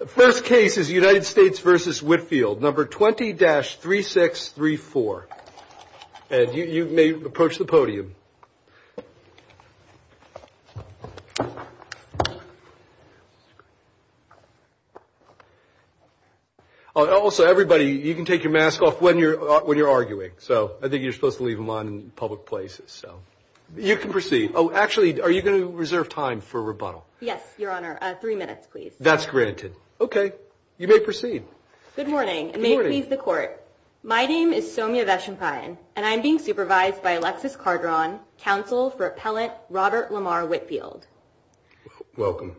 number 20-3634. And you may approach the podium. Also, everybody, you can take your mask off when you're arguing. So I think you're supposed to leave them on in public places. So you can proceed. Oh, actually, are you going to reserve time for rebuttal? Yes, Your Honor. Three minutes, please. That's great. Thank you. Okay, you may proceed. Good morning, and may it please the Court. My name is Soumya Veshapayan, and I'm being supervised by Alexis Carderon, counsel for appellant Robert Lamar Whitfield. Welcome.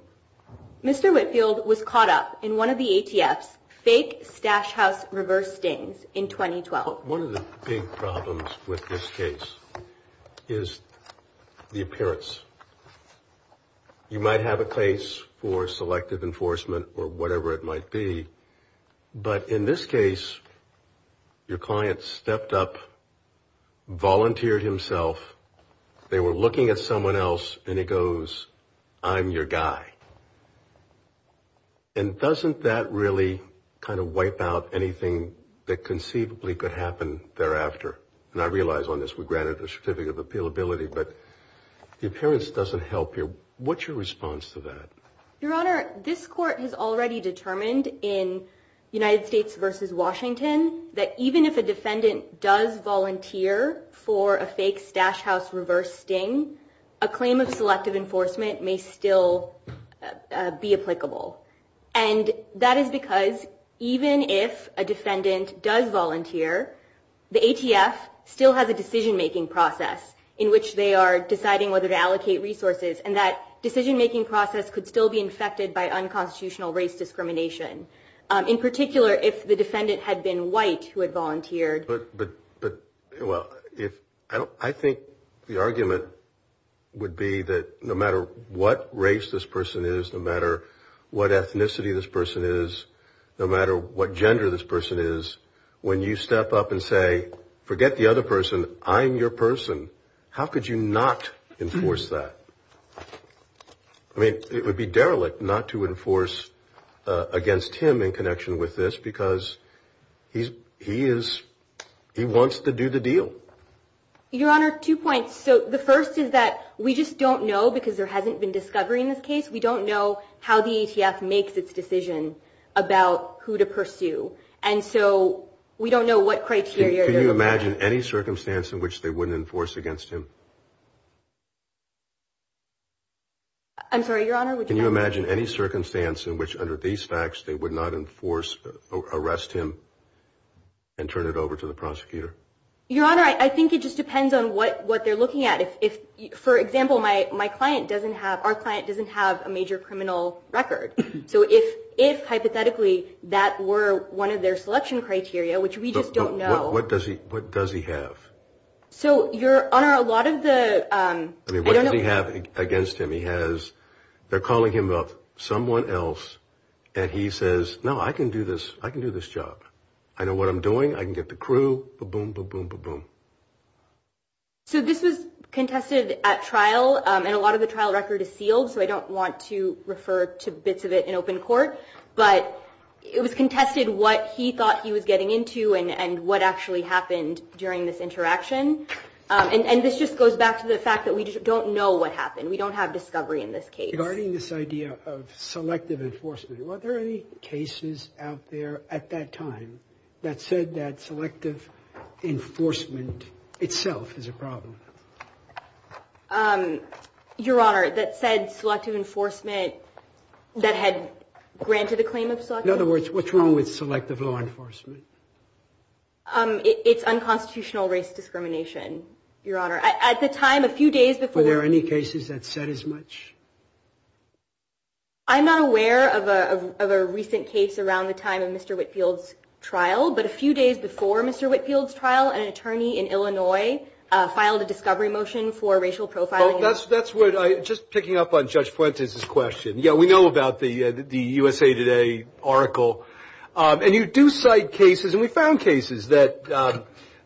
Mr. Whitfield was caught up in one of the ATF's fake stash house reverse stings in 2012. One of the big problems with this case is the appearance. You might have a case for selective enforcement. Or whatever it might be. But in this case, your client stepped up, volunteered himself. They were looking at someone else, and he goes, I'm your guy. And doesn't that really kind of wipe out anything that conceivably could happen thereafter? And I realize on this, we granted a certificate of appealability, but the appearance doesn't help here. What's your response to that? Your Honor, this Court has already determined in United States v. Washington that even if a defendant does volunteer for a fake stash house reverse sting, a claim of selective enforcement may still be applicable. And that is because even if a defendant does volunteer, the ATF still has a decision-making process in which they are deciding whether to allocate resources. And that decision-making process could still be infected by unconstitutional race discrimination. In particular, if the defendant had been white who had volunteered. But I think the argument would be that no matter what race this person is, no matter what ethnicity this person is, no matter what gender this person is, when you step up and say, forget the other person, I'm your person, how could you not enforce that? I mean, it would be derelict not to enforce against him in connection with this because he wants to do the deal. Your Honor, two points. So the first is that we just don't know because there hasn't been discovery in this case. We don't know how the ATF makes its decision about who to pursue. And so we don't know what criteria. Can you imagine any circumstance in which they wouldn't enforce against him? I'm sorry, Your Honor. Can you imagine any circumstance in which under these facts they would not enforce or arrest him and turn it over to the prosecutor? Your Honor, I think it just depends on what they're looking at. If, for example, my client doesn't have, our client doesn't have a major criminal record. So if hypothetically that were one of their selection criteria, which we just don't know. What does he have? So, Your Honor, a lot of the... I mean, what does he have against him? He has, they're calling him up someone else and he says, no, I can do this. I can do this job. I know what I'm doing. I can get the crew. Ba-boom, ba-boom, ba-boom. So this was contested at trial and a lot of the trial record is sealed. So I don't want to refer to bits of it in open court. But it was contested what he thought he was getting into and what actually happened during this interaction. And this just goes back to the fact that we don't know what happened. We don't have discovery in this case. Regarding this idea of selective enforcement, were there any cases out there at that time that said that selective enforcement itself is a problem? Your Honor, that said selective enforcement, that had granted the claim of selective... In other words, what's wrong with selective law enforcement? It's unconstitutional race discrimination, Your Honor. At the time, a few days before... Were there any cases that said as much? I'm not aware of a recent case around the time of Mr. Whitfield's trial. But a few days before Mr. Whitfield's trial, an attorney in Illinois filed a discovery motion for racial profiling. That's what I... Just picking up on Judge Fuentes' question. Yeah, we know about the USA Today article. And you do cite cases, and we found cases that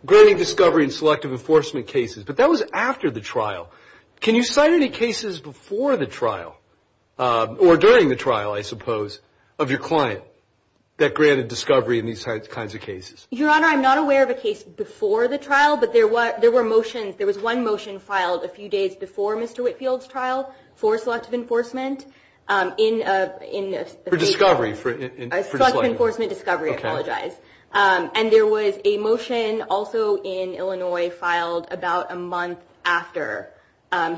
granted discovery in selective enforcement cases. But that was after the trial. Can you cite any cases before the trial, or during the trial, I suppose, of your client that granted discovery in these kinds of cases? Your Honor, I'm not aware of a case before the trial, but there were motions. There was one motion filed a few days before Mr. Whitfield's trial for selective enforcement in... For discovery. Selective enforcement discovery, I apologize. And there was a motion also in Illinois filed about a month after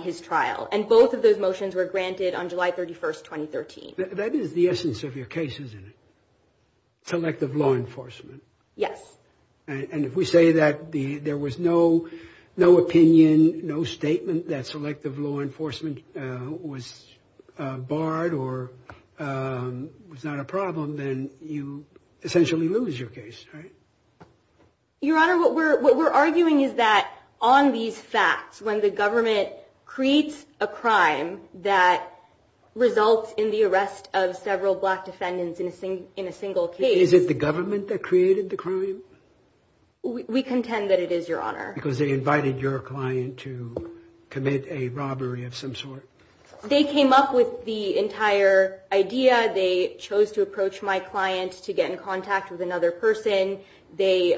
his trial. And both of those motions were granted on July 31st, 2013. That is the essence of your case, isn't it? Selective law enforcement. Yes. And if we say that there was no opinion, no statement that selective law enforcement was barred or was not a problem, then you essentially lose your case, right? Your Honor, what we're arguing is that on these facts, when the government creates a crime that results in the arrest of several black defendants in a single case... Is it the government that created the crime? We contend that it is, Your Honor. Because they invited your client to commit a robbery of some sort? They came up with the entire idea. They chose to approach my client to get in contact with another person. They...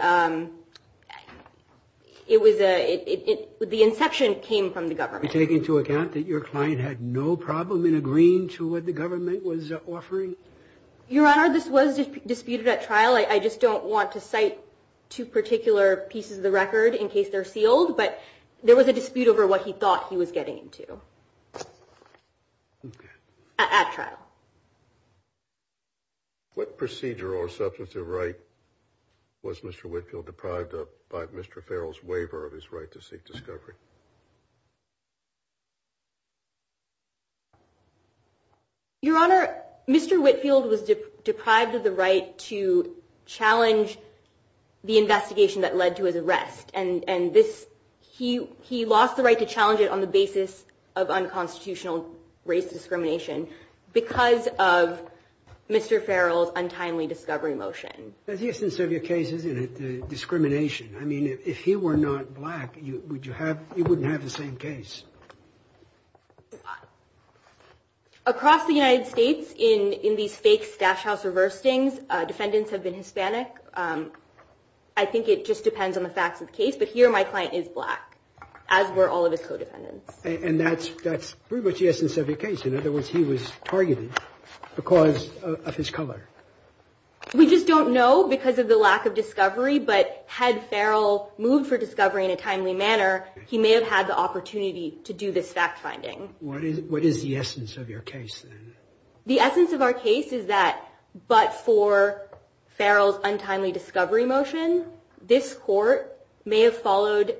It was a... The inception came from the government. You take into account that your client had no problem in agreeing to what the government was offering? Your Honor, this was disputed at trial. I just don't want to cite two particular pieces of the record in case they're sealed. But there was a dispute over what he thought he was getting into at trial. What procedure or substantive right was Mr. Whitfield deprived of by Mr. Farrell's waiver of his right to seek discovery? Your Honor, Mr. Whitfield was deprived of the right to challenge the investigation that led to his arrest. And this... He lost the right to challenge it on the basis of unconstitutional race discrimination because of Mr. Farrell's untimely discovery motion. The essence of your case is discrimination. I mean, if he were not black, you wouldn't have the same case. Across the United States, in these fake stash house reverstings, defendants have been Hispanic. I think it just depends on the facts of the case. But here my client is black, as were all of his co-defendants. And that's pretty much the essence of your case. In other words, he was targeted because of his color. We just don't know because of the lack of discovery. But had Farrell moved for discovery in a timely manner, he may have had the opportunity to do this fact finding. What is the essence of your case? The essence of our case is that but for Farrell's untimely discovery motion, this court may have followed...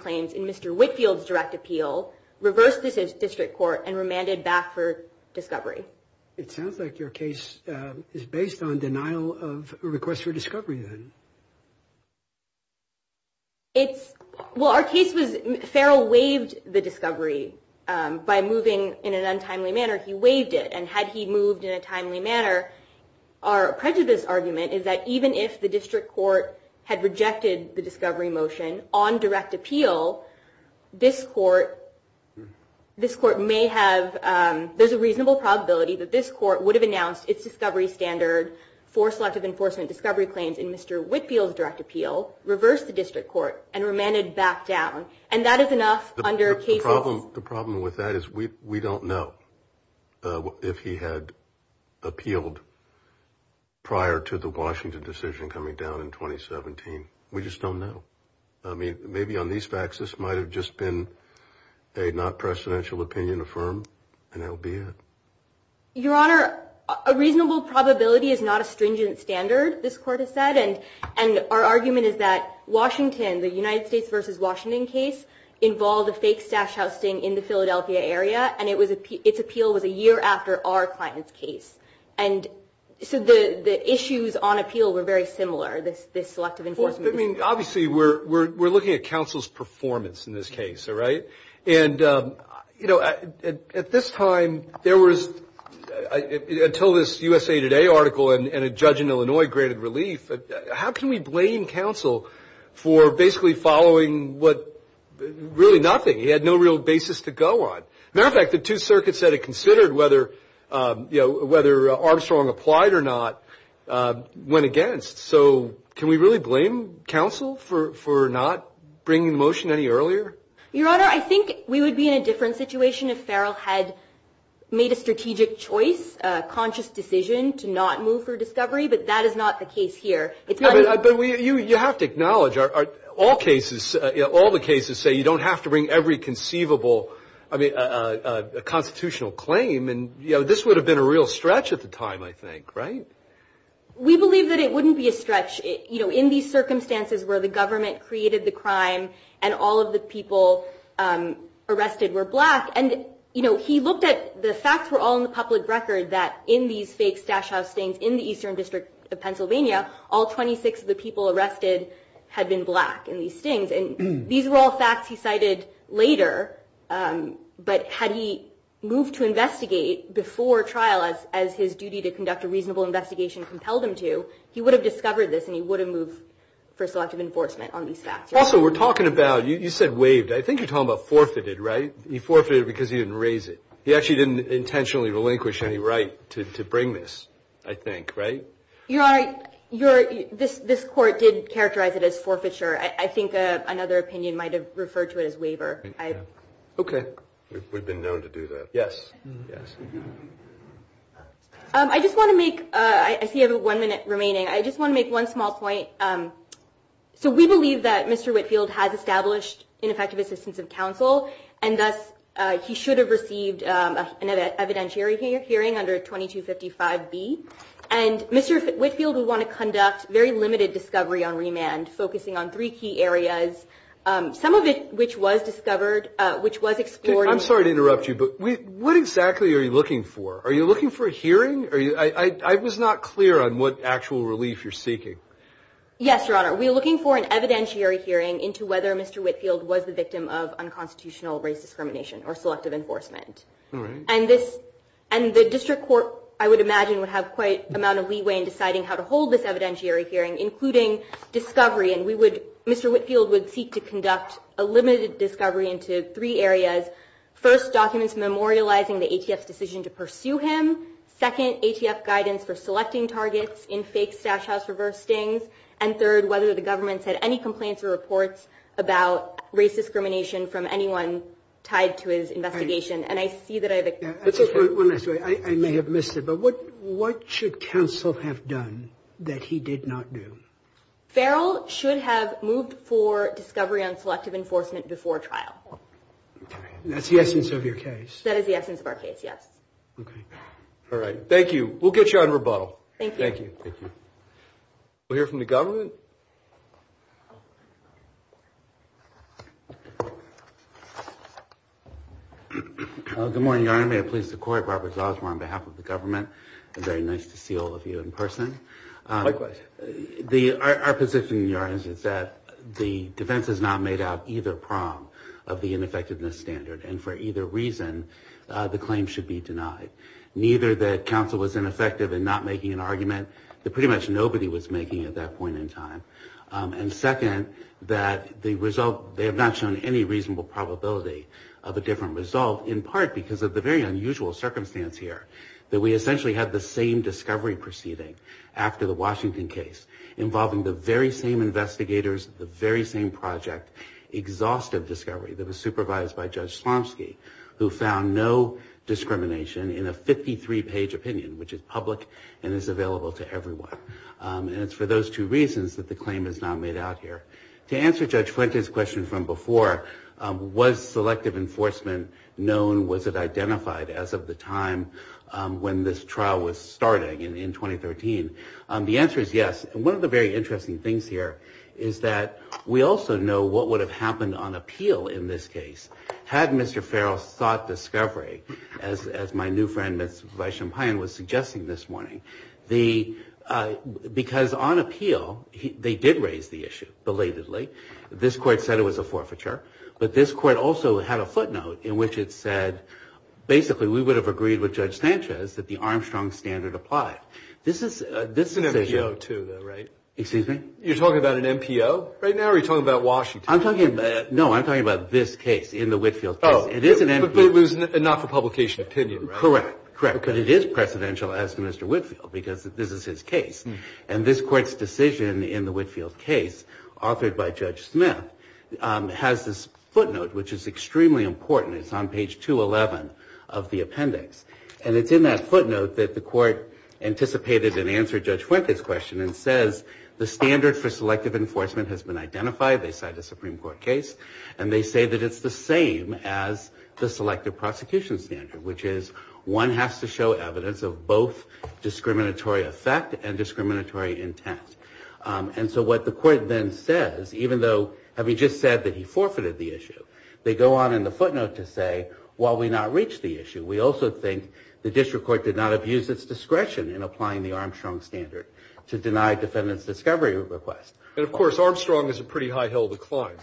claims in Mr. Whitfield's direct appeal, reversed the district court, and remanded back for discovery. It sounds like your case is based on denial of a request for discovery, then. It's... Well, our case was Farrell waived the discovery by moving in an untimely manner. He waived it. And had he moved in a timely manner, our prejudice argument is that even if the district court had rejected the discovery motion, on direct appeal, this court may have... There's a reasonable probability that this court would have announced its discovery standard for selective enforcement discovery claims in Mr. Whitfield's direct appeal, reversed the district court, and remanded back down. And that is enough under cases... The problem with that is we don't know if he had appealed prior to the Washington decision coming down in 2017. We just don't know. I mean, maybe on these facts, this might have just been a not-presidential opinion affirmed, and that would be it. Your Honor, a reasonable probability is not a stringent standard, this court has said, and our argument is that Washington, the United States v. Washington case, involved a fake stash housing in the Philadelphia area, and its appeal was a year after our client's case. And so the issues on appeal were very similar, this selective enforcement issue. I mean, obviously, we're looking at counsel's performance in this case, all right? And, you know, at this time, there was, until this USA Today article and a judge in Illinois granted relief, how can we blame counsel for basically following what, really nothing? He had no real basis to go on. Matter of fact, the two circuits that had considered whether Armstrong applied or not went against. So can we really blame counsel for not bringing the motion any earlier? Your Honor, I think we would be in a different situation if Farrell had made a strategic choice, a conscious decision to not move for discovery, but that is not the case here. But you have to acknowledge, all cases, all the cases say you don't have to bring every conceivable constitutional claim. And, you know, this would have been a real stretch at the time, I think, right? We believe that it wouldn't be a stretch, you know, in these circumstances where the government created the crime and all of the people arrested were black. And, you know, he looked at the facts were all in the public record, that in these fake stash house stings in the Eastern District of Pennsylvania, all 26 of the people arrested had been black in these stings. And these were all facts he cited later. But had he moved to investigate before trial as his duty to conduct a reasonable investigation compelled him to, he would have discovered this and he would have moved for selective enforcement on these facts. Also, we're talking about you said waived. I think you're talking about forfeited, right? He forfeited because he didn't raise it. He actually didn't intentionally relinquish any right to bring this, I think, right? Your Honor, this court did characterize it as forfeiture. I think another opinion might have referred to it as waiver. Okay. We've been known to do that. Yes. I just want to make, I see I have one minute remaining. I just want to make one small point. So we believe that Mr. Whitfield has established ineffective assistance of counsel, and thus he should have received an evidentiary hearing under 2255B. And Mr. Whitfield would want to conduct very limited discovery on remand, focusing on three key areas, some of it which was discovered, which was explored. I'm sorry to interrupt you, but what exactly are you looking for? Are you looking for a hearing? I was not clear on what actual relief you're seeking. Yes, Your Honor. We are looking for an evidentiary hearing into whether Mr. Whitfield was the victim of unconstitutional race discrimination or selective enforcement. All right. And the district court, I would imagine, would have quite an amount of leeway in deciding how to hold this evidentiary hearing, including discovery. And Mr. Whitfield would seek to conduct a limited discovery into three areas, first, documents memorializing the ATF's decision to pursue him, second, ATF guidance for selecting targets in fake Stash House reverse stings, and third, whether the government's had any complaints or reports about race discrimination from anyone tied to his investigation. And I see that I have a question. I may have missed it, but what should counsel have done that he did not do? Farrell should have moved for discovery on selective enforcement before trial. That's the essence of your case. That is the essence of our case, yes. Okay. Thank you. We'll get you on rebuttal. Thank you. Thank you. We'll hear from the government. Good morning, Your Honor. May it please the Court, Robert Zosmar on behalf of the government. It's very nice to see all of you in person. Likewise. Our position, Your Honor, is that the defense has not made out either prong of the that counsel was ineffective in not making an argument that pretty much nobody was making at that point in time. And second, that the result, they have not shown any reasonable probability of a different result, in part because of the very unusual circumstance here, that we essentially had the same discovery proceeding after the Washington case, involving the very same investigators, the very same project, exhaustive discovery that was supervised by Judge Slomski, who found no discrimination in a 53-page opinion, which is public and is available to everyone. And it's for those two reasons that the claim is not made out here. To answer Judge Flinken's question from before, was selective enforcement known, was it identified, as of the time when this trial was starting in 2013? The answer is yes. One of the very interesting things here is that we also know what would have happened on appeal in this case had Mr. Farrell sought discovery, as my new friend, Mr. Vaishampayan, was suggesting this morning. Because on appeal, they did raise the issue, belatedly. This court said it was a forfeiture. But this court also had a footnote in which it said, basically, we would have agreed with Judge Sanchez that the Armstrong standard applied. This is... It's an MPO, too, though, right? Excuse me? You're talking about an MPO right now, or are you talking about Washington? I'm talking about... No, I'm talking about this case, in the Whitfield case. Oh, but it was not for publication opinion, right? Correct, correct. But it is presidential, as to Mr. Whitfield, because this is his case. And this court's decision in the Whitfield case, authored by Judge Smith, has this footnote, which is extremely important. It's on page 211 of the appendix. And it's in that footnote that the court anticipated and answered Judge Flinken's question and says, the standard for selective enforcement has been identified. They cite a Supreme Court case. And they say that it's the same as the selective prosecution standard, which is one has to show evidence of both discriminatory effect and discriminatory intent. And so what the court then says, even though, having just said that he forfeited the issue, they go on in the footnote to say, while we not reach the issue, we also think the district court did not abuse its discretion in applying the Armstrong standard to deny defendant's discovery request. And, of course, Armstrong is a pretty high hill to climb,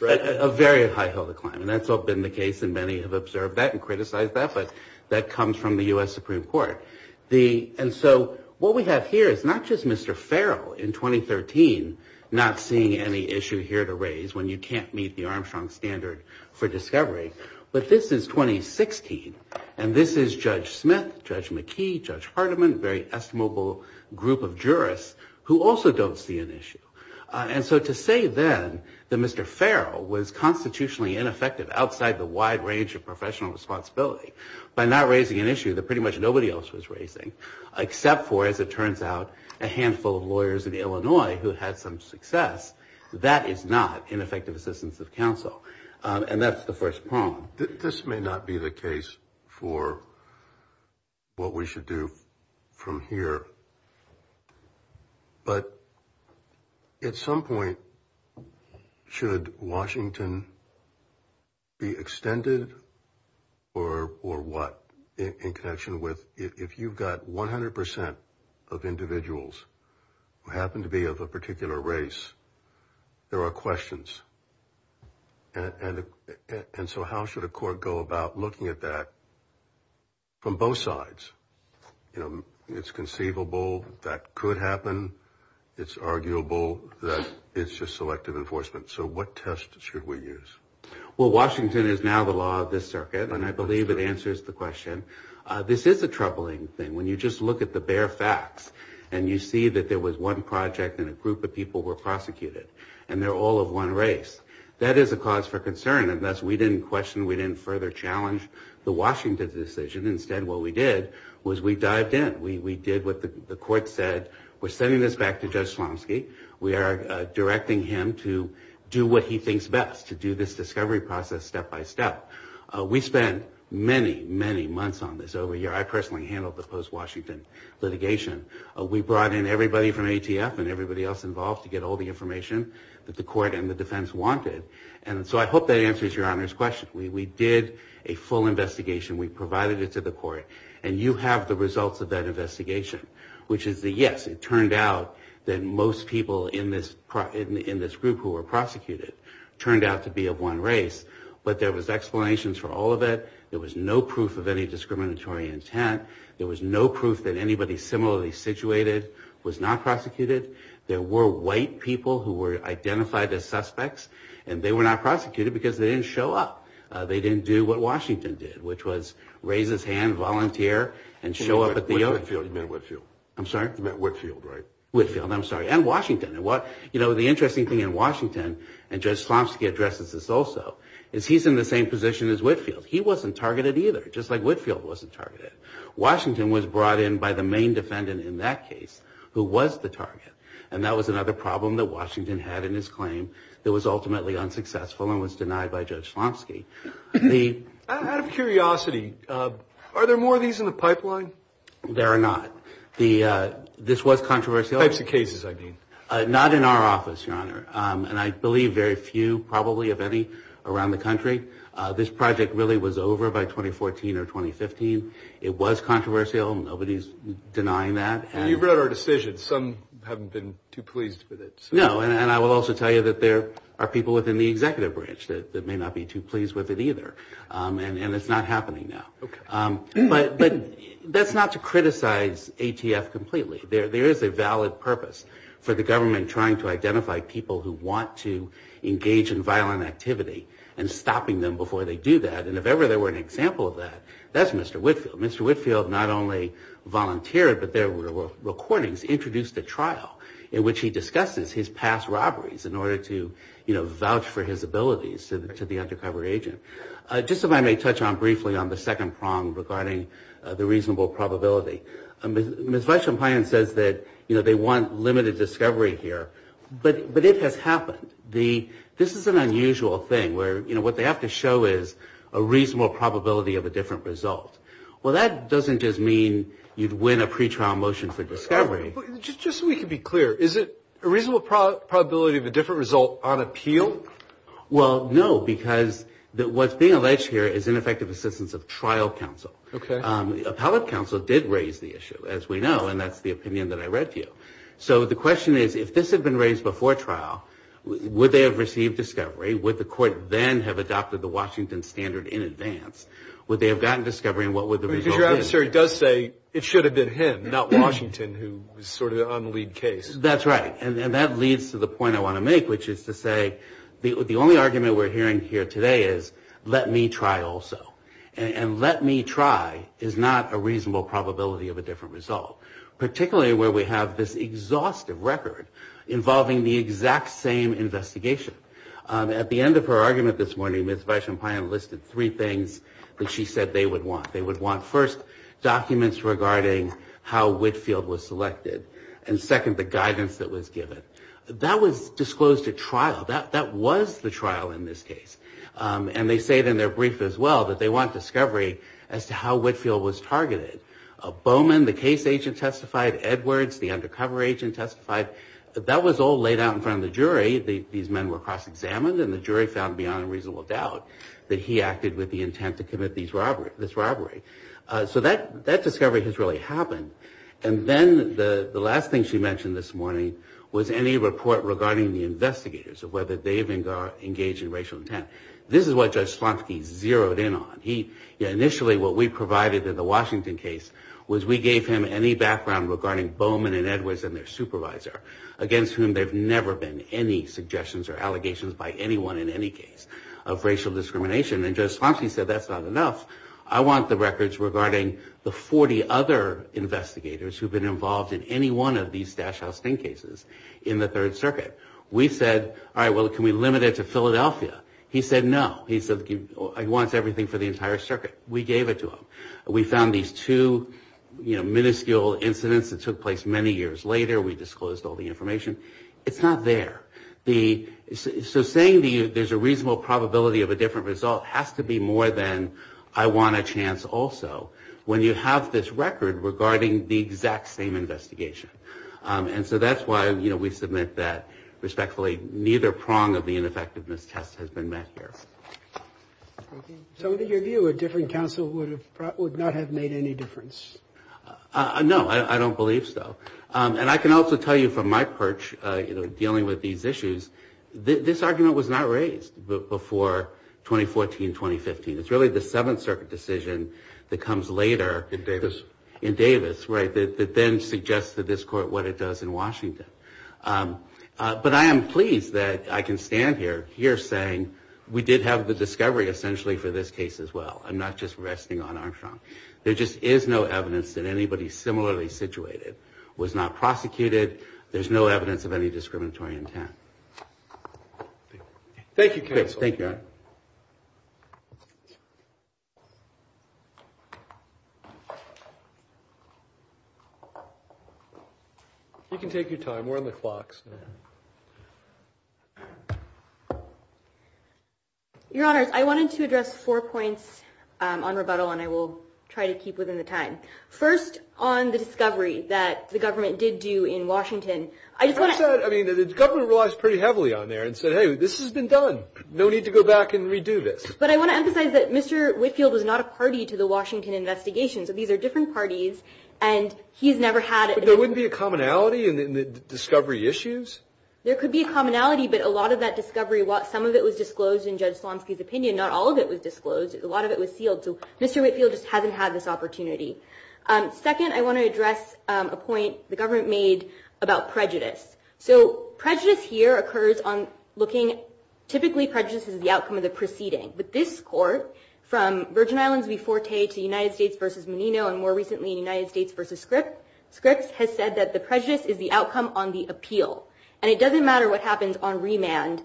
right? A very high hill to climb. And that's what's been the case, and many have observed that and criticized that. But that comes from the U.S. Supreme Court. And so what we have here is not just Mr. Farrell, in 2013, not seeing any issue here to raise when you can't meet the Armstrong standard for discovery, but this is 2016, and this is Judge Smith, Judge McKee, Judge Hardiman, very estimable group of jurists who also don't see an issue. And so to say then that Mr. Farrell was constitutionally ineffective outside the wide range of professional responsibility by not raising an issue that pretty much nobody else was raising, except for, as it turns out, a handful of lawyers in Illinois who had some success, that is not ineffective assistance of counsel. And that's the first problem. This may not be the case for what we should do from here, but at some point should Washington be extended or what in connection with if you've got 100 percent of individuals who happen to be of a particular race, there are questions. And so how should a court go about looking at that from both sides? You know, it's conceivable that could happen. It's arguable that it's just selective enforcement. So what test should we use? Well, Washington is now the law of this circuit, and I believe it answers the question. This is a troubling thing when you just look at the bare facts and you see that there was one project and a group of people were prosecuted, and they're all of one race. That is a cause for concern, and thus we didn't question, we didn't further challenge the Washington decision. Instead, what we did was we dived in. We did what the court said. We're sending this back to Judge Slomski. We are directing him to do what he thinks best, to do this discovery process step by step. We spent many, many months on this over a year. I personally handled the post-Washington litigation. We brought in everybody from ATF and everybody else involved to get all the information that the court and the defense wanted, and so I hope that answers Your Honor's question. We did a full investigation. We provided it to the court, and you have the results of that investigation, which is that, yes, it turned out that most people in this group who were prosecuted turned out to be of one race, but there was explanations for all of it. There was no proof of any discriminatory intent. There was no proof that anybody similarly situated was not prosecuted. There were white people who were identified as suspects, and they were not prosecuted because they didn't show up. They didn't do what Washington did, which was raise his hand, volunteer, and show up at the opening. Whitfield. I'm sorry? Whitfield, right. Whitfield, I'm sorry, and Washington. You know, the interesting thing in Washington, and Judge Slomski addresses this also, is he's in the same position as Whitfield. He wasn't targeted either, just like Whitfield wasn't targeted. Washington was brought in by the main defendant in that case, who was the target, and that was another problem that Washington had in his claim that was ultimately unsuccessful and was denied by Judge Slomski. Out of curiosity, are there more of these in the pipeline? There are not. This was controversial. Types of cases, I mean. Not in our office, Your Honor, and I believe very few probably of any around the country. This project really was over by 2014 or 2015. It was controversial. Nobody's denying that. And you've read our decisions. Some haven't been too pleased with it. No, and I will also tell you that there are people within the executive branch that may not be too pleased with it either, and it's not happening now. Okay. But that's not to criticize ATF completely. There is a valid purpose for the government trying to identify people who want to engage in violent activity and stopping them before they do that. And if ever there were an example of that, that's Mr. Whitfield. Mr. Whitfield not only volunteered, but there were recordings introduced at trial in which he discusses his past robberies in order to, you know, vouch for his abilities to the undercover agent. Just if I may touch on briefly on the second prong regarding the reasonable probability. Ms. Weisselmeyer says that, you know, they want limited discovery here, but it has happened. This is an unusual thing where, you know, what they have to show is a reasonable probability of a different result. Well, that doesn't just mean you'd win a pretrial motion for discovery. Just so we can be clear, is it a reasonable probability of a different result on appeal? Well, no, because what's being alleged here is ineffective assistance of trial counsel. Okay. Appellate counsel did raise the issue, as we know, and that's the opinion that I read to you. So the question is, if this had been raised before trial, would they have received discovery? Would the court then have adopted the Washington standard in advance? Would they have gotten discovery, and what would the result be? Because your adversary does say it should have been him, not Washington, who was sort of on the lead case. That's right. And that leads to the point I want to make, which is to say the only argument we're hearing here today is let me try also. And let me try is not a reasonable probability of a different result, particularly where we have this exhaustive record involving the exact same investigation. At the end of her argument this morning, Ms. Weischenpine listed three things that she said they would want. They would want, first, documents regarding how Whitfield was selected, and second, the guidance that was given. That was disclosed at trial. That was the trial in this case. And they say it in their brief as well, that they want discovery as to how Whitfield was targeted. Bowman, the case agent, testified. Edwards, the undercover agent, testified. That was all laid out in front of the jury. These men were cross-examined, and the jury found beyond a reasonable doubt that he acted with the intent to commit this robbery. So that discovery has really happened. And then the last thing she mentioned this morning was any report regarding the investigators, whether they even engaged in racial intent. This is what Judge Slontke zeroed in on. Initially, what we provided in the Washington case was we gave him any background regarding Bowman and Edwards and their supervisor, against whom there have never been any suggestions or allegations by anyone in any case of racial discrimination. And Judge Slontke said, that's not enough. I want the records regarding the 40 other investigators who have been involved in any one of these stash house sting cases in the Third Circuit. We said, all right, well, can we limit it to Philadelphia? He said, no. He wants everything for the entire circuit. We gave it to him. We found these two minuscule incidents that took place many years later. We disclosed all the information. It's not there. So saying there's a reasonable probability of a different result has to be more than, I want a chance also, when you have this record regarding the exact same investigation. And so that's why, you know, we submit that, respectfully, neither prong of the ineffectiveness test has been met here. So in your view, a different counsel would not have made any difference? No, I don't believe so. And I can also tell you from my perch, you know, dealing with these issues, this argument was not raised before 2014, 2015. It's really the Seventh Circuit decision that comes later. In Davis. In Davis, right, that then suggests to this court what it does in Washington. But I am pleased that I can stand here saying we did have the discovery, essentially, for this case as well. I'm not just resting on Armstrong. There just is no evidence that anybody similarly situated was not prosecuted. There's no evidence of any discriminatory intent. Thank you, counsel. Thank you. Your Honor. You can take your time. We're on the clocks now. Your Honors, I wanted to address four points on rebuttal, and I will try to keep within the time. First, on the discovery that the government did do in Washington. I just want to say, I mean, the government relies pretty heavily on there and said, hey, this has been done. No need to go back and redo this. But I want to emphasize that Mr. Whitfield was not a party to the Washington investigation. So these are different parties, and he's never had it. But there wouldn't be a commonality in the discovery issues? There could be a commonality, but a lot of that discovery, some of it was disclosed in Judge Slonsky's opinion. Not all of it was disclosed. A lot of it was sealed. So Mr. Whitfield just hasn't had this opportunity. Second, I want to address a point the government made about prejudice. So prejudice here occurs on looking, typically prejudice is the outcome of the proceeding. But this court, from Virgin Islands v. Forte to United States v. Menino, and more recently United States v. Scripps, has said that the prejudice is the outcome on the appeal. And it doesn't matter what happens on remand.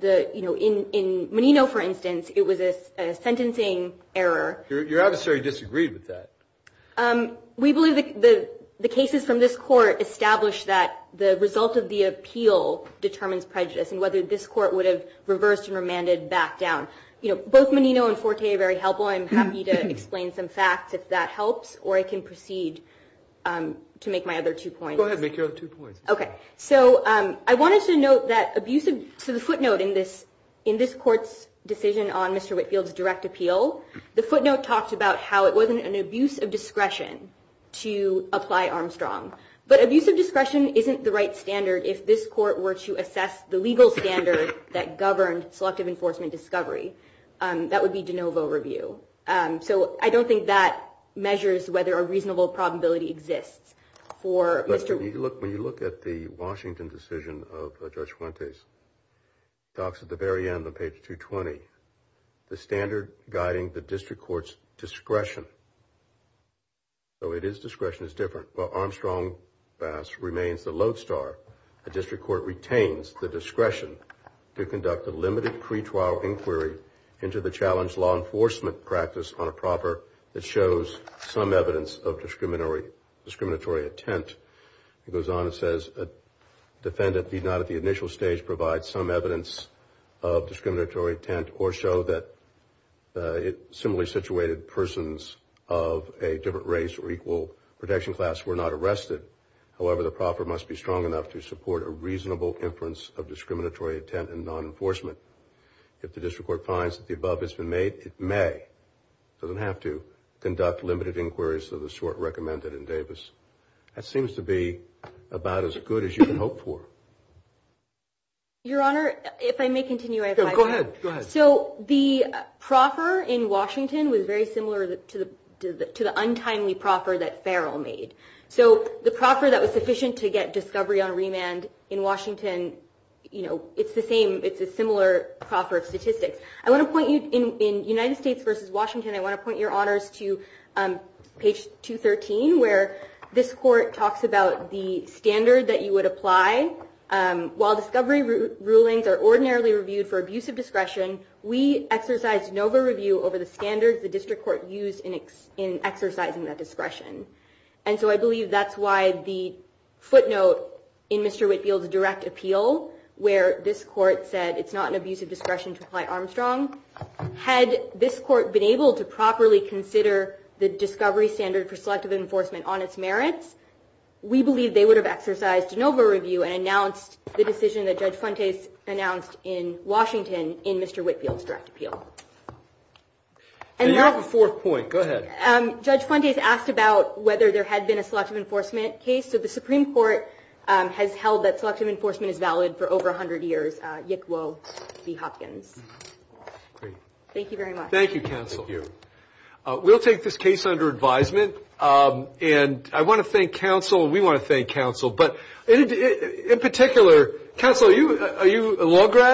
In Menino, for instance, it was a sentencing error. Your adversary disagreed with that. We believe the cases from this court establish that the result of the appeal determines prejudice and whether this court would have reversed and remanded back down. Both Menino and Forte are very helpful. I'm happy to explain some facts if that helps, or I can proceed to make my other two points. Go ahead, make your other two points. Okay. So I wanted to note that abusive – so the footnote in this court's decision on Mr. Whitfield's direct appeal, the footnote talks about how it wasn't an abuse of discretion to apply Armstrong. But abuse of discretion isn't the right standard if this court were to assess the legal standard that governed selective enforcement discovery. That would be de novo review. So I don't think that measures whether a reasonable probability exists for Mr. – When you look at the Washington decision of Judge Fuentes, it talks at the very end on page 220, the standard guiding the district court's discretion. So it is discretion is different. Armstrong remains the lodestar. The district court retains the discretion to conduct a limited pretrial inquiry into the challenged law enforcement practice on a proper that shows some evidence of discriminatory intent. It goes on and says a defendant did not at the initial stage provide some evidence of discriminatory intent or show that similarly situated persons of a different race or equal protection class were not arrested. However, the proper must be strong enough to support a reasonable inference of discriminatory intent and non-enforcement. If the district court finds that the above has been made, it may. It doesn't have to conduct limited inquiries of the sort recommended in Davis. That seems to be about as good as you can hope for. Your Honor, if I may continue, I have five minutes. Go ahead. So the proffer in Washington was very similar to the untimely proffer that Farrell made. So the proffer that was sufficient to get discovery on remand in Washington, it's the same. It's a similar proffer of statistics. In United States v. Washington, I want to point your honors to page 213, where this court talks about the standard that you would apply. While discovery rulings are ordinarily reviewed for abuse of discretion, we exercise de novo review over the standards the district court used in exercising that discretion. And so I believe that's why the footnote in Mr. Whitfield's direct appeal, where this court said it's not an abuse of discretion to apply Armstrong, had this court been able to properly consider the discovery standard for selective enforcement on its merits, we believe they would have exercised de novo review and announced the decision that Judge Fuentes announced in Washington in Mr. Whitfield's direct appeal. And you have a fourth point. Go ahead. Judge Fuentes asked about whether there had been a selective enforcement case. So the Supreme Court has held that selective enforcement is valid for over 100 years, Yick Woe v. Hopkins. Great. Thank you very much. Thank you, counsel. Thank you. We'll take this case under advisement. And I want to thank counsel. We want to thank counsel. But in particular, counsel, are you a law grad?